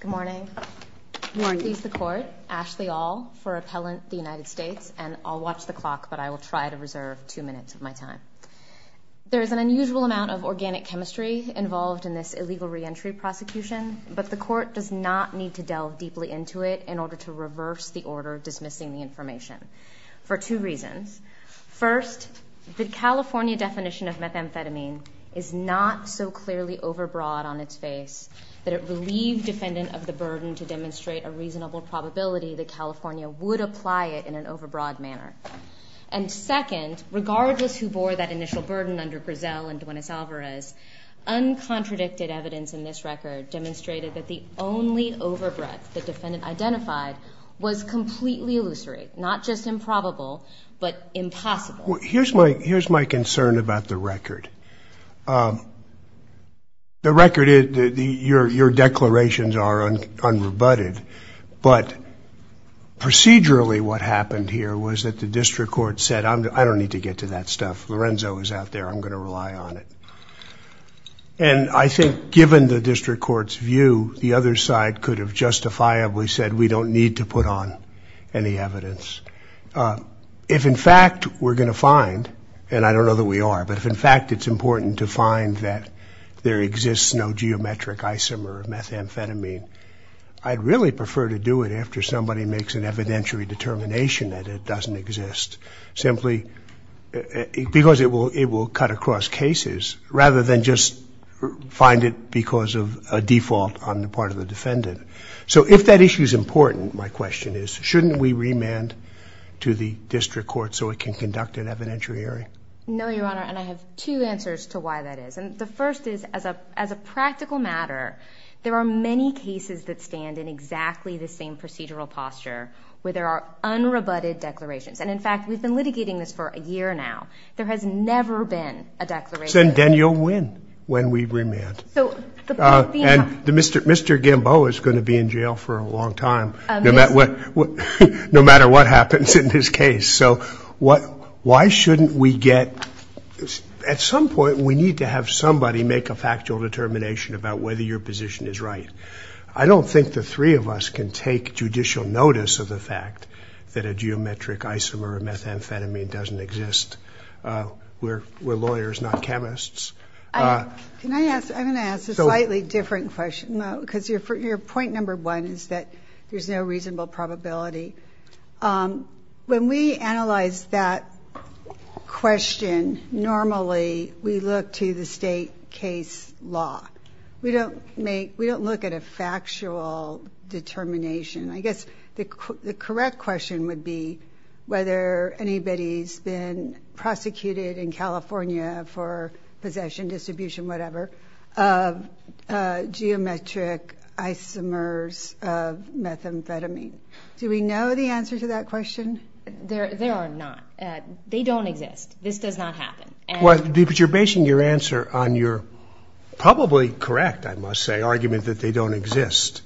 Good morning. Please the court, Ashley Aul for Appellant the United States, and I'll watch the clock but I will try to reserve two minutes of my time. There is an unusual amount of organic chemistry involved in this illegal reentry prosecution, but the court does not need to delve deeply into it in order to reverse the order dismissing the information for two reasons. First, the California definition of methamphetamine is not so clearly over breadth in its face that it relieved defendant of the burden to demonstrate a reasonable probability that California would apply it in an over broad manner. And second, regardless who bore that initial burden under Grisel and Duenes Alvarez, uncontradicted evidence in this record demonstrated that the only over breadth the defendant identified was completely illusory, not just improbable, but impossible. Here's my concern about the record. The record is your declarations are unrebutted, but procedurally what happened here was that the district court said I don't need to get to that stuff. Lorenzo is out there. I'm going to rely on it. And I think given the district court's view, the other side could have justifiably said we don't need to put on any evidence. If in fact we're going to find, and I don't know that we are, but if in fact it's important to find that there exists no geometric isomer of methamphetamine, I'd really prefer to do it after somebody makes an evidentiary determination that it doesn't exist, simply because it will cut across cases rather than just find it because of a default on the part of the defendant. So if that issue is important, my question is, shouldn't we remand to the district court so it can conduct an evidentiary hearing? No, Your Honor, and I have two answers to why that is. And the first is, as a practical matter, there are many cases that stand in exactly the same procedural posture where there are unrebutted declarations. And in fact, we've been litigating this for a year now. There has never been a declaration. Then you'll win when we remand. And Mr. Gamboa is going to be in jail for a long time, no matter what happens in his case. So why shouldn't we get, at some point we need to have somebody make a factual determination about whether your position is right. I don't think the three of us can take judicial notice of the fact that a geometric isomer of methamphetamine doesn't exist. We're lawyers, not chemists. Can I ask, I'm going to ask a slightly different question, because your point number one is that there's no reasonable probability. When we analyze that question, normally we look to the state case law. We don't look at a factual determination. I guess the correct question would be whether anybody's been prosecuted in California for possession, distribution, whatever, of geometric isomers of methamphetamine. Do we know the answer to that question? There are not. They don't exist. This does not happen. You're basing your answer on your probably correct, I must say, argument that they don't exist.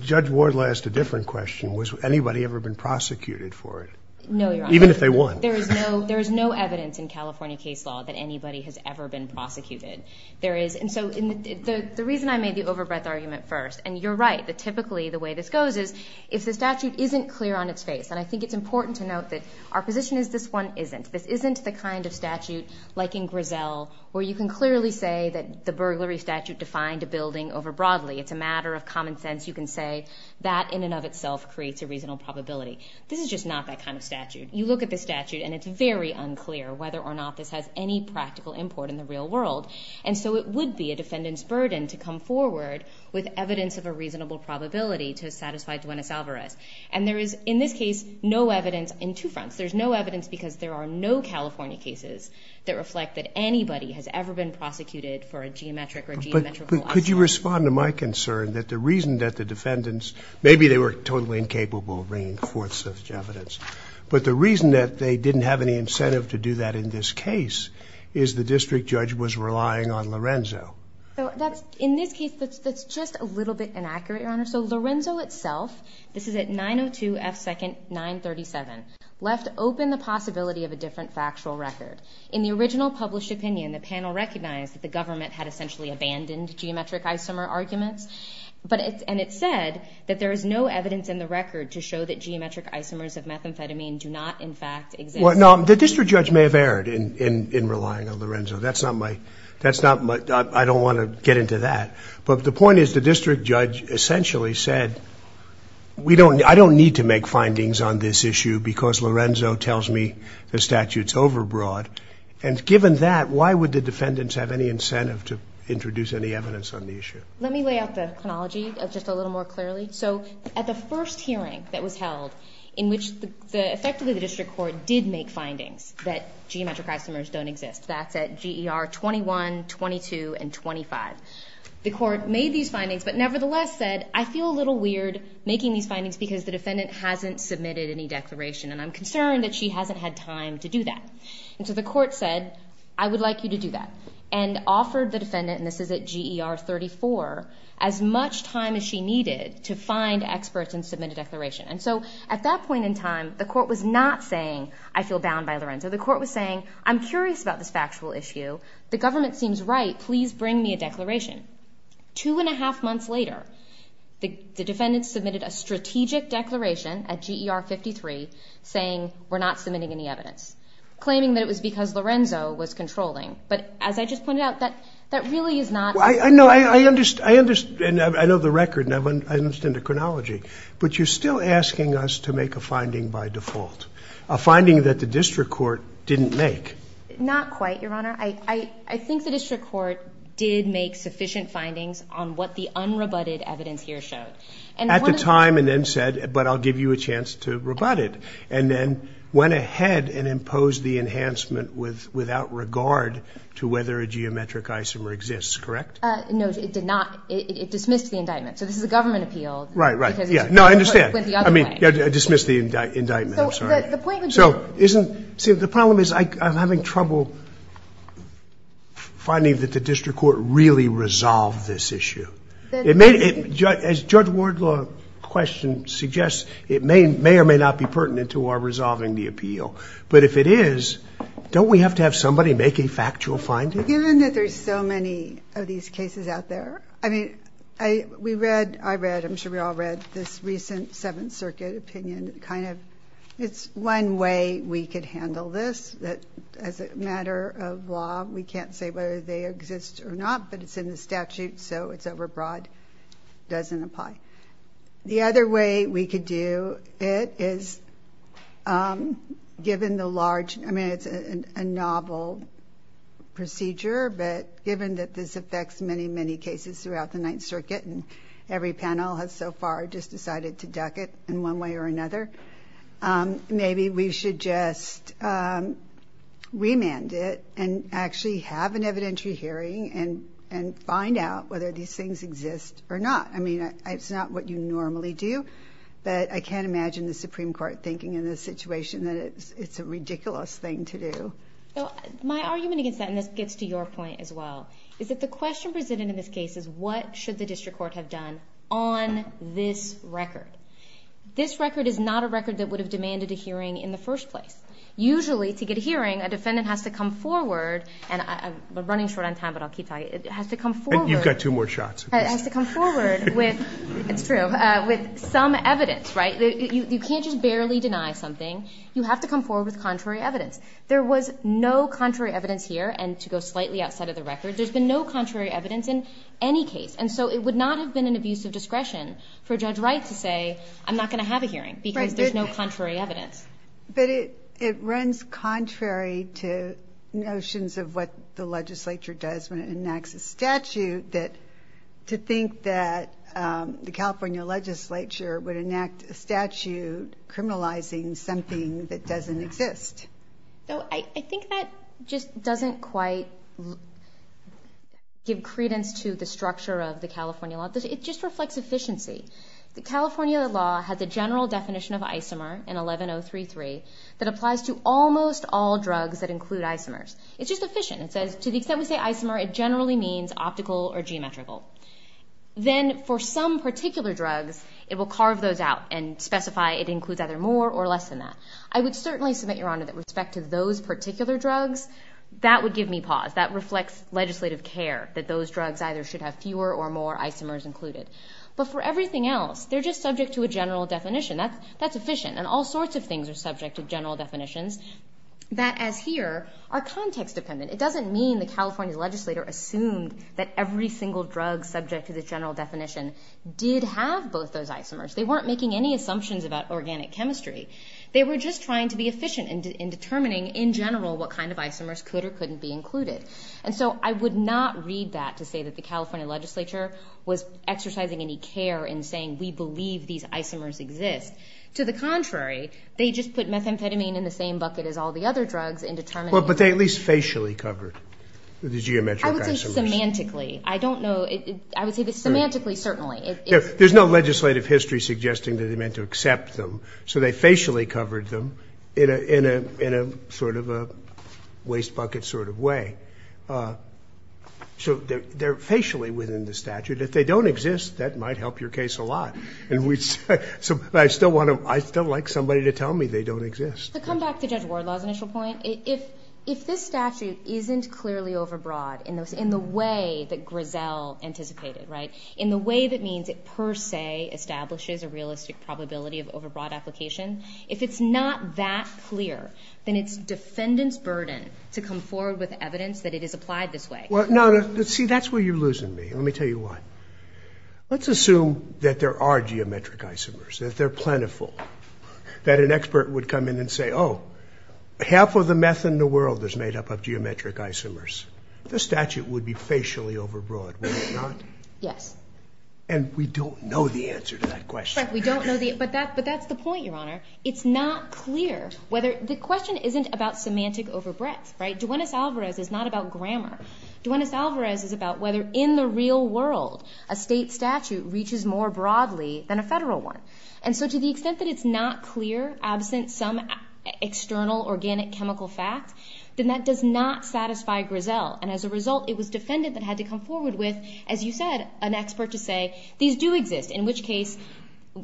Judge Ward asked a different question. Has anybody ever been prosecuted for it? No, Your Honor. Even if they won. There is no evidence in California case law that anybody has ever been prosecuted. The reason I made the over-breath argument first, and you're right, that typically the way this goes is if the statute isn't clear on its face, and I think it's important to note that our position is this one isn't. This isn't the kind of statute, like in Griselle, where you can clearly say that the burglary statute defined a building over broadly. It's a matter of common sense. You can say that in and of itself creates a reasonable probability. This is just not that kind of statute. You look at the statute and it's very unclear whether or not this has any practical import in the real world. And so it would be a defendant's burden to come forward with evidence of a reasonable probability to satisfy Duenas-Alvarez. And there is, in this case, no evidence in two fronts. There's no evidence because there are no California cases that reflect that anybody has ever been prosecuted for a geometric or geometrical object. Could you respond to my concern that the reason that the defendants, maybe they were totally incapable of bringing forth such evidence, but the reason that they didn't have any incentive to do that in this case is the district judge was relying on Lorenzo. In this case, that's just a little bit inaccurate, Your Honor. So Lorenzo itself, this is at 902 F. 2nd. 937, left open the possibility of a different factual record. In the original published opinion, the panel recognized that the government had essentially abandoned geometric isomer arguments. And it said that there is no evidence in the record to show that geometric isomers of methamphetamine do not, in fact, exist. Well, no, the district judge may have erred in relying on Lorenzo. That's not my, I don't want to get into that. But the point is the district judge essentially said, I don't need to make findings on this issue because Lorenzo tells me the statute's overbroad. And given that, why would the defendants have any incentive to introduce any evidence on the issue? Let me lay out the chronology just a little more clearly. So at the first hearing that was held, in which effectively the district court did make findings that geometric isomers don't exist, that's at GER 21, 22, and 25. The court made these findings, but nevertheless said, I feel a little weird making these findings because the defendant hasn't submitted any evidence to do that. And so the court said, I would like you to do that, and offered the defendant, and this is at GER 34, as much time as she needed to find experts and submit a declaration. And so at that point in time, the court was not saying, I feel bound by Lorenzo. The court was saying, I'm curious about this factual issue. The government seems right. Please bring me a declaration. Two and a half months later, the defendant submitted a strategic declaration at GER 53, saying, we're not submitting any evidence. Claiming that it was because Lorenzo was controlling. But as I just pointed out, that really is not. I know the record, and I understand the chronology, but you're still asking us to make a finding by default. A finding that the district court didn't make. Not quite, Your Honor. I think the district court did make sufficient findings on what the unrebutted evidence here showed. At the time, and then said, but I'll give you a chance to rebut it. And then went ahead and imposed the enhancement without regard to whether a geometric isomer exists, correct? No, it did not. It dismissed the indictment. So this is a government appeal. Right, right. Because it went the other way. No, I understand. I mean, it dismissed the indictment. I'm sorry. So the point would be. See, the problem is, I'm having trouble finding that the district court really resolved this issue. As Judge Wardlaw's question suggests, it may or may not be pertinent to our resolving the appeal. But if it is, don't we have to have somebody make a factual finding? Given that there's so many of these cases out there. I mean, we read, I read, I'm sure we all read, this recent Seventh Circuit opinion. It's one way we could handle this, that as a matter of law, we can't say whether they exist or not, but it's in the statute, so it's overbroad. Doesn't apply. The other way we could do it is given the large, I mean, it's a novel procedure, but given that this affects many, many cases throughout the Ninth Circuit, and every panel has so far just decided to duck it in one way or another, maybe we should just remand it, and actually have an evidentiary hearing, and find out whether these things exist or not. I mean, it's not what you normally do, but I can't imagine the Supreme Court thinking in this situation that it's a ridiculous thing to do. So, my argument against that, and this gets to your point as well, is that the question of the record is not a record that would have demanded a hearing in the first place. Usually, to get a hearing, a defendant has to come forward, and I'm running short on time, but I'll keep talking. It has to come forward. You've got two more shots. It has to come forward with, it's true, with some evidence, right? You can't just barely deny something. You have to come forward with contrary evidence. There was no contrary evidence here, and to go slightly outside of the record, there's been no contrary evidence in any case, and so it would not have been an abuse of discretion for Judge Wright to say, I'm not going to have a hearing because there's no contrary evidence. But it runs contrary to notions of what the legislature does when it enacts a statute to think that the California legislature would enact a statute criminalizing something that doesn't exist. No, I think that just doesn't quite give credence to the structure of the California law. It just reflects efficiency. The California law has a general definition of isomer in 11033 that applies to almost all drugs that include isomers. It's just efficient. It says, to the extent we say isomer, it generally means optical or geometrical. Then for some particular drugs, it will carve those out and specify it includes either more or less than that. I would certainly submit, Your Honor, that respect to those particular drugs, that would give me pause. That reflects legislative care, that those drugs either should have fewer or more isomers included. But for everything else, they're just subject to a general definition. That's efficient, and all sorts of things are subject to general definitions that, as here, are context-dependent. It doesn't mean the California legislature assumed that every single drug subject to the general definition did have both those isomers. They weren't making any assumptions about organic chemistry. They were just trying to be efficient in determining, in general, what kind of isomers could or couldn't be included. So I would not read that to say that the California legislature was exercising any care in saying we believe these isomers exist. To the contrary, they just put methamphetamine in the same bucket as all the other drugs in determining... But they at least facially covered the geometric isomers. I would say semantically. I don't know. I would say semantically, certainly. There's no legislative history suggesting that they meant to accept them. So they facially covered them in a sort of a wastebucket sort of way. So they're facially within the statute. If they don't exist, that might help your case a lot. I still like somebody to tell me they don't exist. To come back to Judge Wardlaw's initial point, if this statute isn't clearly overbroad in the way that Grisell anticipated, in the way that means it per se establishes a realistic probability of overbroad application, if it's not that clear, then it's defendant's burden to come forward with evidence that it is applied this way. See, that's where you're losing me. Let me tell you why. Let's assume that there are geometric isomers, that they're plentiful, that an expert would come in and say, oh, half of the meth in the world is made up of geometric isomers. The statute would be facially overbroad, would it not? Yes. And we don't know the answer to that question. Correct. We don't know the answer. But that's the point, Your Honor. It's not clear whether – the question isn't about semantic overbreadth, right? Duenas-Alvarez is not about grammar. Duenas-Alvarez is about whether in the real world a state statute reaches more broadly than a federal one. And so to the extent that it's not clear, absent some external organic chemical fact, then that does not satisfy Grisell. And as a result, it was defendant that had to come forward with, as you said, an expert to say, these do exist, in which case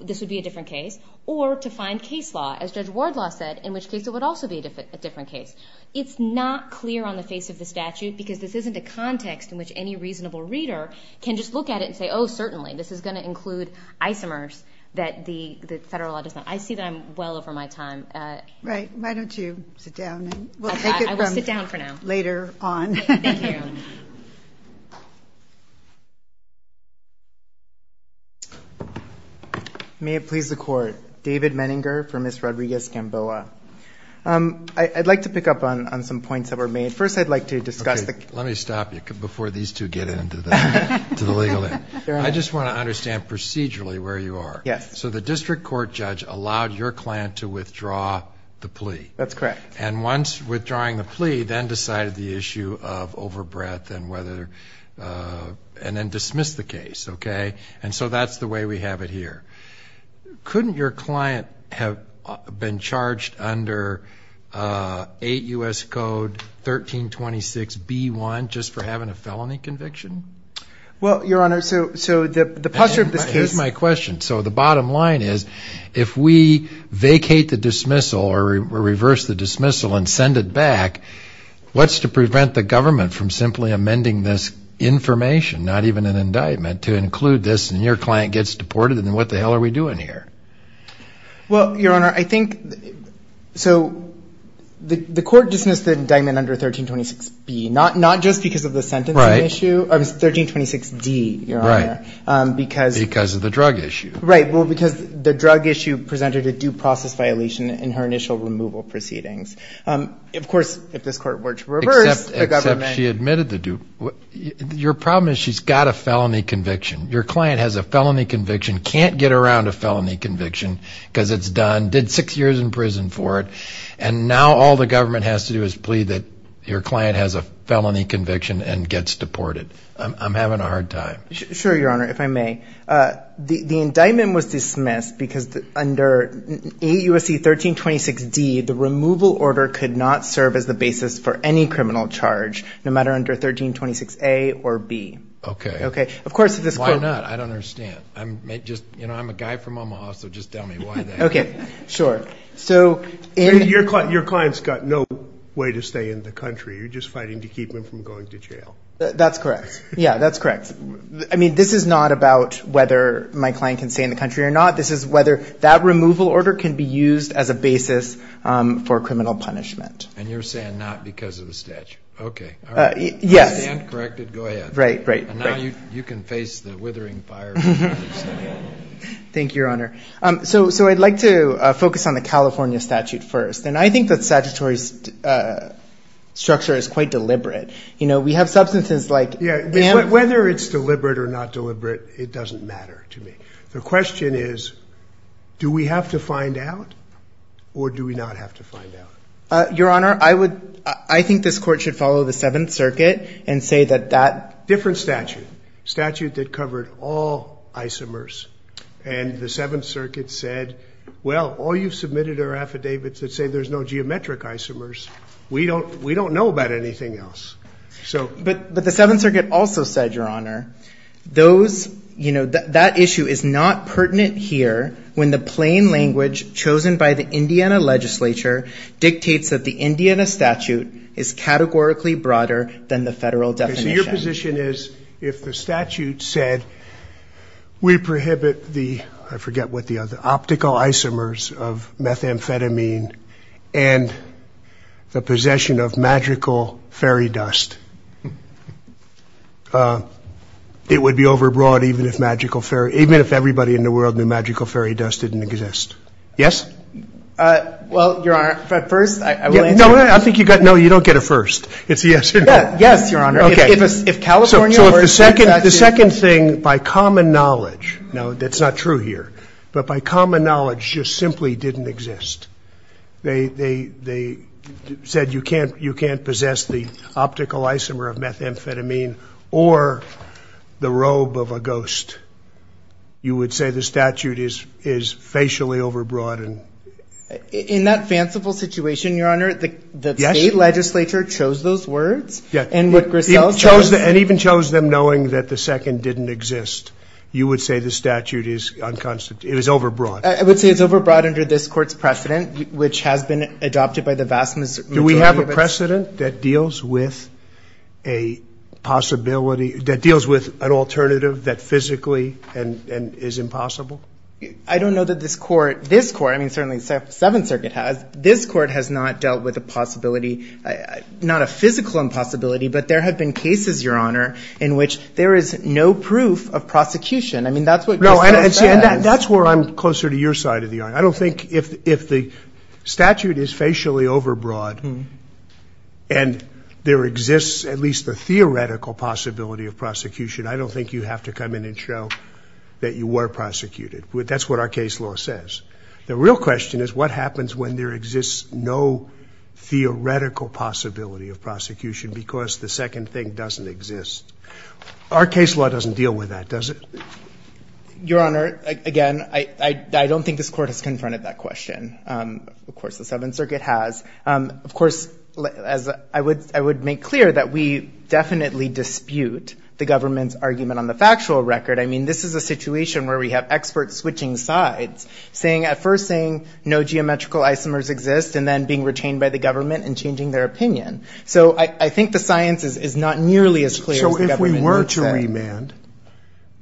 this would be a different case, or to find case law, as Judge Wardlaw said, in which case it would also be a different case. It's not clear on the face of the statute because this isn't a context in which any reasonable reader can just look at it and say, oh, certainly, this is going to include isomers that the federal law does not. I see that I'm well over my time. Right. Why don't you sit down and we'll take it from later on. I will sit down for now. Thank you. May it please the Court. David Menninger for Ms. Rodriguez-Gamboa. I'd like to pick up on some points that were made. First, I'd like to discuss the... Let me stop you before these two get into the legal end. I just want to understand procedurally where you are. So the district court judge allowed your client to withdraw the plea. That's correct. And once withdrawing the plea, then decided the issue of overbreadth and then dismissed the case. And so that's the way we have it here. Couldn't your client have been charged under 8 U.S. Code 1326b1 just for having a felony conviction? Well, Your Honor, so the posture of this case... Here's my question. So the bottom line is, if we vacate the dismissal or reverse the dismissal and send it back, what's to prevent the government from simply amending this information, not even an indictment, to include this and your client gets deported, then what the hell are we doing here? Well, Your Honor, I think... So the court dismissed the indictment under 1326b, not just because of the sentencing issue. It was 1326d, Your Honor, because... Because of the drug issue. Right. Well, because the drug issue presented a due process violation in her initial removal proceedings. Of course, if this court were to reverse, the government... She's got a felony conviction. Your client has a felony conviction, can't get around a felony conviction because it's done, did six years in prison for it, and now all the government has to do is plead that your client has a felony conviction and gets deported. I'm having a hard time. Sure, Your Honor, if I may. The indictment was dismissed because under 8 U.S. Code 1326d, the removal order could not serve as the basis for any criminal charge, no matter under 1326a or b. Okay. Okay. Of course, if this court... Why not? I don't understand. I'm a guy from Omaha, so just tell me why that is. Okay. Sure. So... Your client's got no way to stay in the country. You're just fighting to keep him from going to jail. That's correct. Yeah, that's correct. I mean, this is not about whether my client can stay in the country or not. This is whether that removal order can be used as a basis for criminal punishment. And you're saying not because of the statute. Okay. Yes. If you can't correct it, go ahead. Right, right. And now you can face the withering fire. Thank you, Your Honor. So I'd like to focus on the California statute first. And I think the statutory structure is quite deliberate. You know, we have substances like... Yeah. Whether it's deliberate or not deliberate, it doesn't matter to me. The question is, do we have to find out or do we not have to find out? Your Honor, I think this court should follow the Seventh Circuit and say that that... Different statute. Statute that covered all isomers. And the Seventh Circuit said, well, all you've submitted are affidavits that say there's no geometric isomers. We don't know about anything else. But the Seventh Circuit also said, Your Honor, that issue is not pertinent here when the Seventh Circuit dictates that the Indiana statute is categorically broader than the Okay. So your position is if the statute said we prohibit the... I forget what the other... Optical isomers of methamphetamine and the possession of magical fairy dust, it would be overbroad even if magical fairy... Even if everybody in the world knew magical fairy dust didn't exist. Yes? Well, Your Honor, first I will answer... No, I think you got... No, you don't get a first. It's a yes or no. Yes, Your Honor. If California or... So if the second thing, by common knowledge... No, that's not true here. But by common knowledge, just simply didn't exist. They said you can't possess the optical isomer of methamphetamine or the robe of a ghost. You would say the statute is facially overbroad and... In that fanciful situation, Your Honor, the state legislature chose those words and what Griselle says... And even chose them knowing that the second didn't exist. You would say the statute is overbroad. I would say it's overbroad under this court's precedent, which has been adopted by the vast majority of its... Do we have a precedent that deals with an alternative that physically is impossible? I don't know that this court, this court, I mean, certainly the Seventh Circuit has, this court has not dealt with a possibility, not a physical impossibility, but there have been cases, Your Honor, in which there is no proof of prosecution. I mean, that's what Griselle says. No, and that's where I'm closer to your side of the arm. I don't think if the statute is facially overbroad and there exists at least the theoretical possibility of prosecution, I don't think you have to come in and show that you were prosecuted. That's what our case law says. The real question is what happens when there exists no theoretical possibility of prosecution because the second thing doesn't exist? Our case law doesn't deal with that, does it? Your Honor, again, I don't think this court has confronted that question. Of course, the Seventh Circuit has. Of course, I would make clear that we definitely dispute the government's argument on the factual record. I mean, this is a situation where we have experts switching sides, saying, at first saying no geometrical isomers exist and then being retained by the government and changing their opinion. So I think the science is not nearly as clear as the government makes it. So if we were to remand,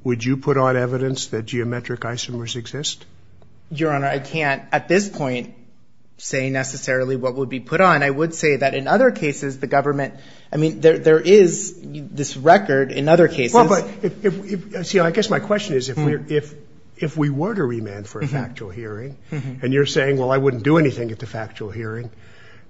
would you put on evidence that geometric isomers exist? Your Honor, I can't at this point say necessarily what would be put on. I would say that in other cases, the government, I mean, there is this record in other cases. See, I guess my question is, if we were to remand for a factual hearing and you're saying, well, I wouldn't do anything at the factual hearing,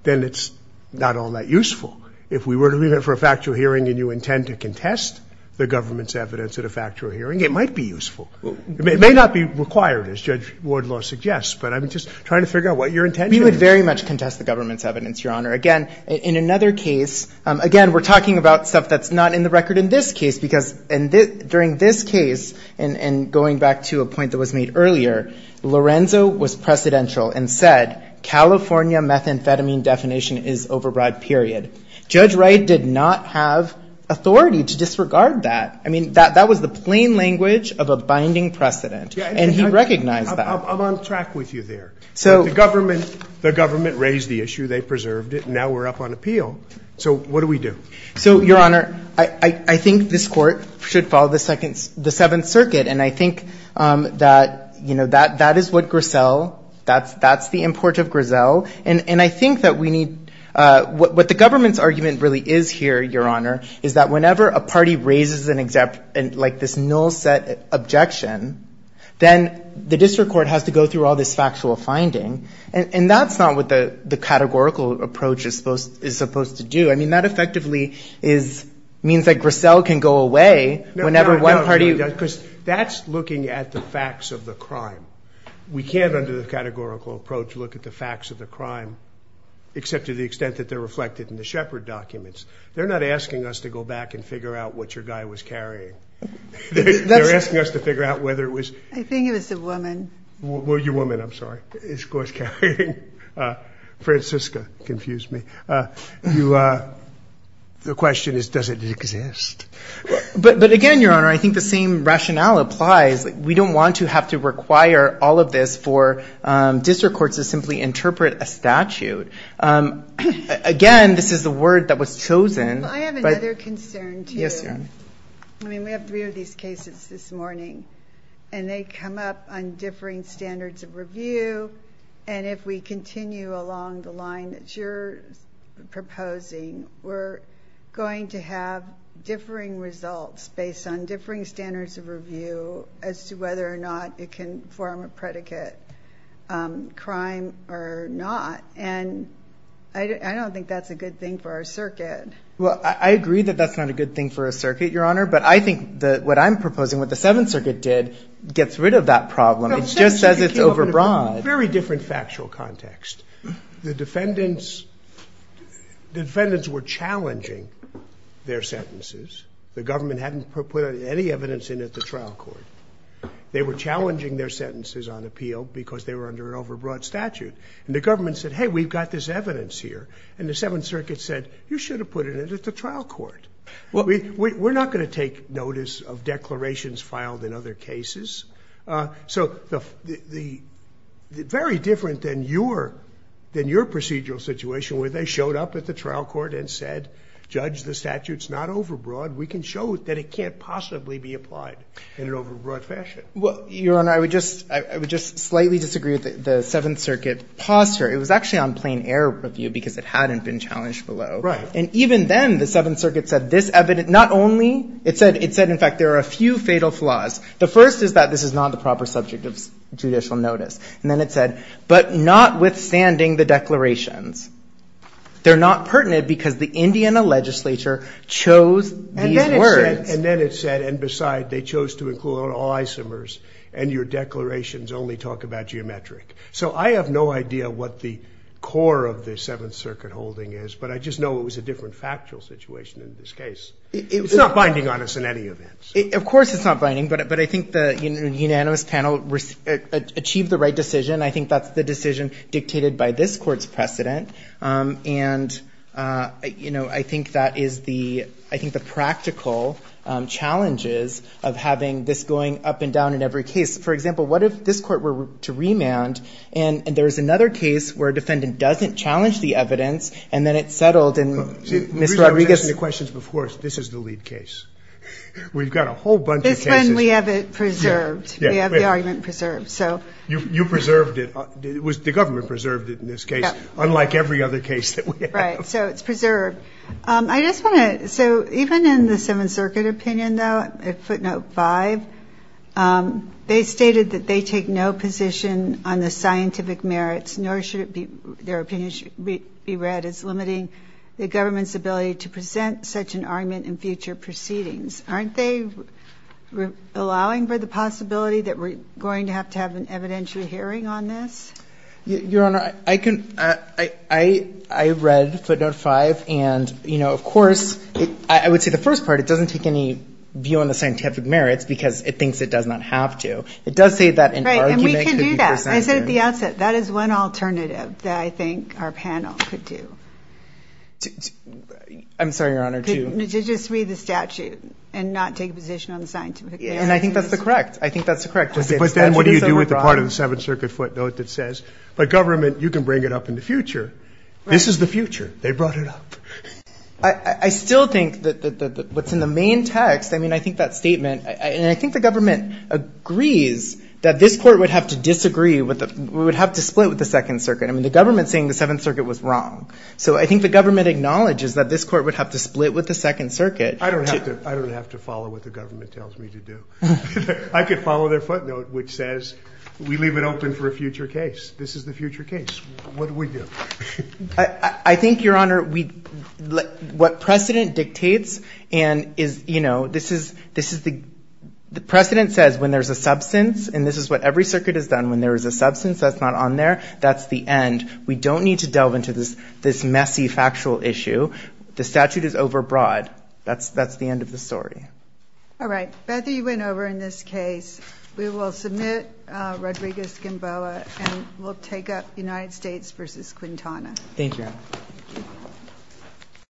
then it's not all that useful. If we were to remand for a factual hearing and you intend to contest the government's evidence at a factual hearing, it might be useful. It may not be required, as Judge Wardlaw suggests, but I'm just trying to figure out what your intention is. We would very much contest the government's evidence, Your Honor. Again, in another case, again, we're talking about stuff that's not in the record in this case, because during this case, and going back to a point that was made earlier, Lorenzo was precedential and said, California methamphetamine definition is override, period. Judge Wright did not have authority to disregard that. I mean, that was the plain language of a binding precedent, and he recognized that. I'm on track with you there. The government raised the issue, they preserved it, and now we're up on appeal. So what do we do? So, Your Honor, I think this Court should follow the Seventh Circuit, and I think that, you know, that is what Griselle, that's the import of Griselle, and I think that we need, what the government's argument really is here, Your Honor, is that whenever a party raises, like, this null set objection, then the district court has to go through all this factual finding, and that's not what the categorical approach is supposed to do. I mean, that effectively is, means that Griselle can go away whenever one party... No, no, because that's looking at the facts of the crime. We can't, under the categorical approach, look at the facts of the crime, except to the extent that they're reflected in the Shepard documents. They're not asking us to go back and figure out what your guy was carrying. They're asking us to figure out whether it was... I think it was the woman. Well, your woman, I'm sorry, is what's carrying. Francisca confused me. The question is, does it exist? But again, Your Honor, I think the same rationale applies. We don't want to have to require all of this for district courts to simply interpret a statute. Again, this is the word that was chosen. I have another concern, too. Yes, Your Honor. I mean, we have three of these cases this morning, and they come up on differing standards of review, and if we continue along the line that you're proposing, we're going to have differing results based on differing standards of review as to whether or not it can form a predicate crime or not. And I don't think that's a good thing for our circuit. Well, I agree that that's not a good thing for our circuit, Your Honor, but I think that what I'm proposing, what the Seventh Circuit did, gets rid of that problem. It just says it's overbroad. Very different factual context. The defendants were challenging their sentences. The government hadn't put any evidence in at the trial court. They were challenging their sentences on appeal because they were under an overbroad statute. And the government said, hey, we've got this evidence here. And the Seventh Circuit said, you should have put it in at the trial court. We're not going to take notice of declarations filed in other cases. So very different than your procedural situation where they showed up at the trial court and said, judge, the statute's not overbroad. We can show that it can't possibly be applied in an overbroad fashion. Your Honor, I would just slightly disagree with the Seventh Circuit posture. It was actually on plain air review because it hadn't been challenged below. And even then, the Seventh Circuit said this evidence, not only, it said, in fact, there are a few fatal flaws. The first is that this is not the proper subject of judicial notice. And then it said, but notwithstanding the declarations. They're not pertinent because the Indiana legislature chose these words. And then it said, and beside, they chose to include all isomers. And your declarations only talk about geometric. So I have no idea what the core of the Seventh Circuit holding is. But I just know it was a different factual situation in this case. It's not binding on us in any event. Of course it's not binding. But I think the unanimous panel achieved the right decision. I think that's the decision dictated by this Court's precedent. And, you know, I think that is the, I think the practical challenges of having this going up and down in every case. For example, what if this Court were to remand and there's another case where a defendant doesn't challenge the evidence and then it's settled and Mr. Rodriguez. I was asking the questions before. This is the lead case. We've got a whole bunch of cases. This one we have it preserved. We have the argument preserved. So. You preserved it. The government preserved it in this case. Unlike every other case that we have. Right. So it's preserved. I just want to, so even in the Seventh Circuit opinion though, footnote five, they stated that they take no position on the scientific merits nor should it be, their opinion should be read as limiting the government's ability to present such an argument in future proceedings. Aren't they allowing for the possibility that we're going to have to have an evidentiary hearing on this? Your Honor, I read footnote five and, you know, of course, I would say the first part, it doesn't take any view on the scientific merits because it thinks it does not have to. It does say that an argument could be presented. Right. And we can do that. I said at the outset, that is one alternative that I think our panel could do. I'm sorry, Your Honor. To just read the statute and not take a position on the scientific merits. And I think that's correct. I think that's correct. But then what do you do with the part of the Seventh Circuit footnote that says, but government, you can bring it up in the future. Right. This is the future. They brought it up. I still think that what's in the main text, I mean, I think that statement, and I think the government agrees that this court would have to disagree, would have to split with the Second Circuit. I mean, the government's saying the Seventh Circuit was wrong. So I think the government acknowledges that this court would have to split with the Second Circuit. I don't have to follow what the government tells me to do. I could follow their footnote, which says, we leave it open for a future case. This is the future case. What do we do? I think, Your Honor, what precedent dictates and is, you know, this is the precedent says when there's a substance, and this is what every circuit has done, when there is a substance that's not on there, that's the end. We don't need to delve into this messy factual issue. The statute is overbroad. That's the end of the story. All right. Beth, you went over in this case. We will submit Rodriguez-Gamboa, and we'll take up United States v. Quintana. Thank you, Your Honor.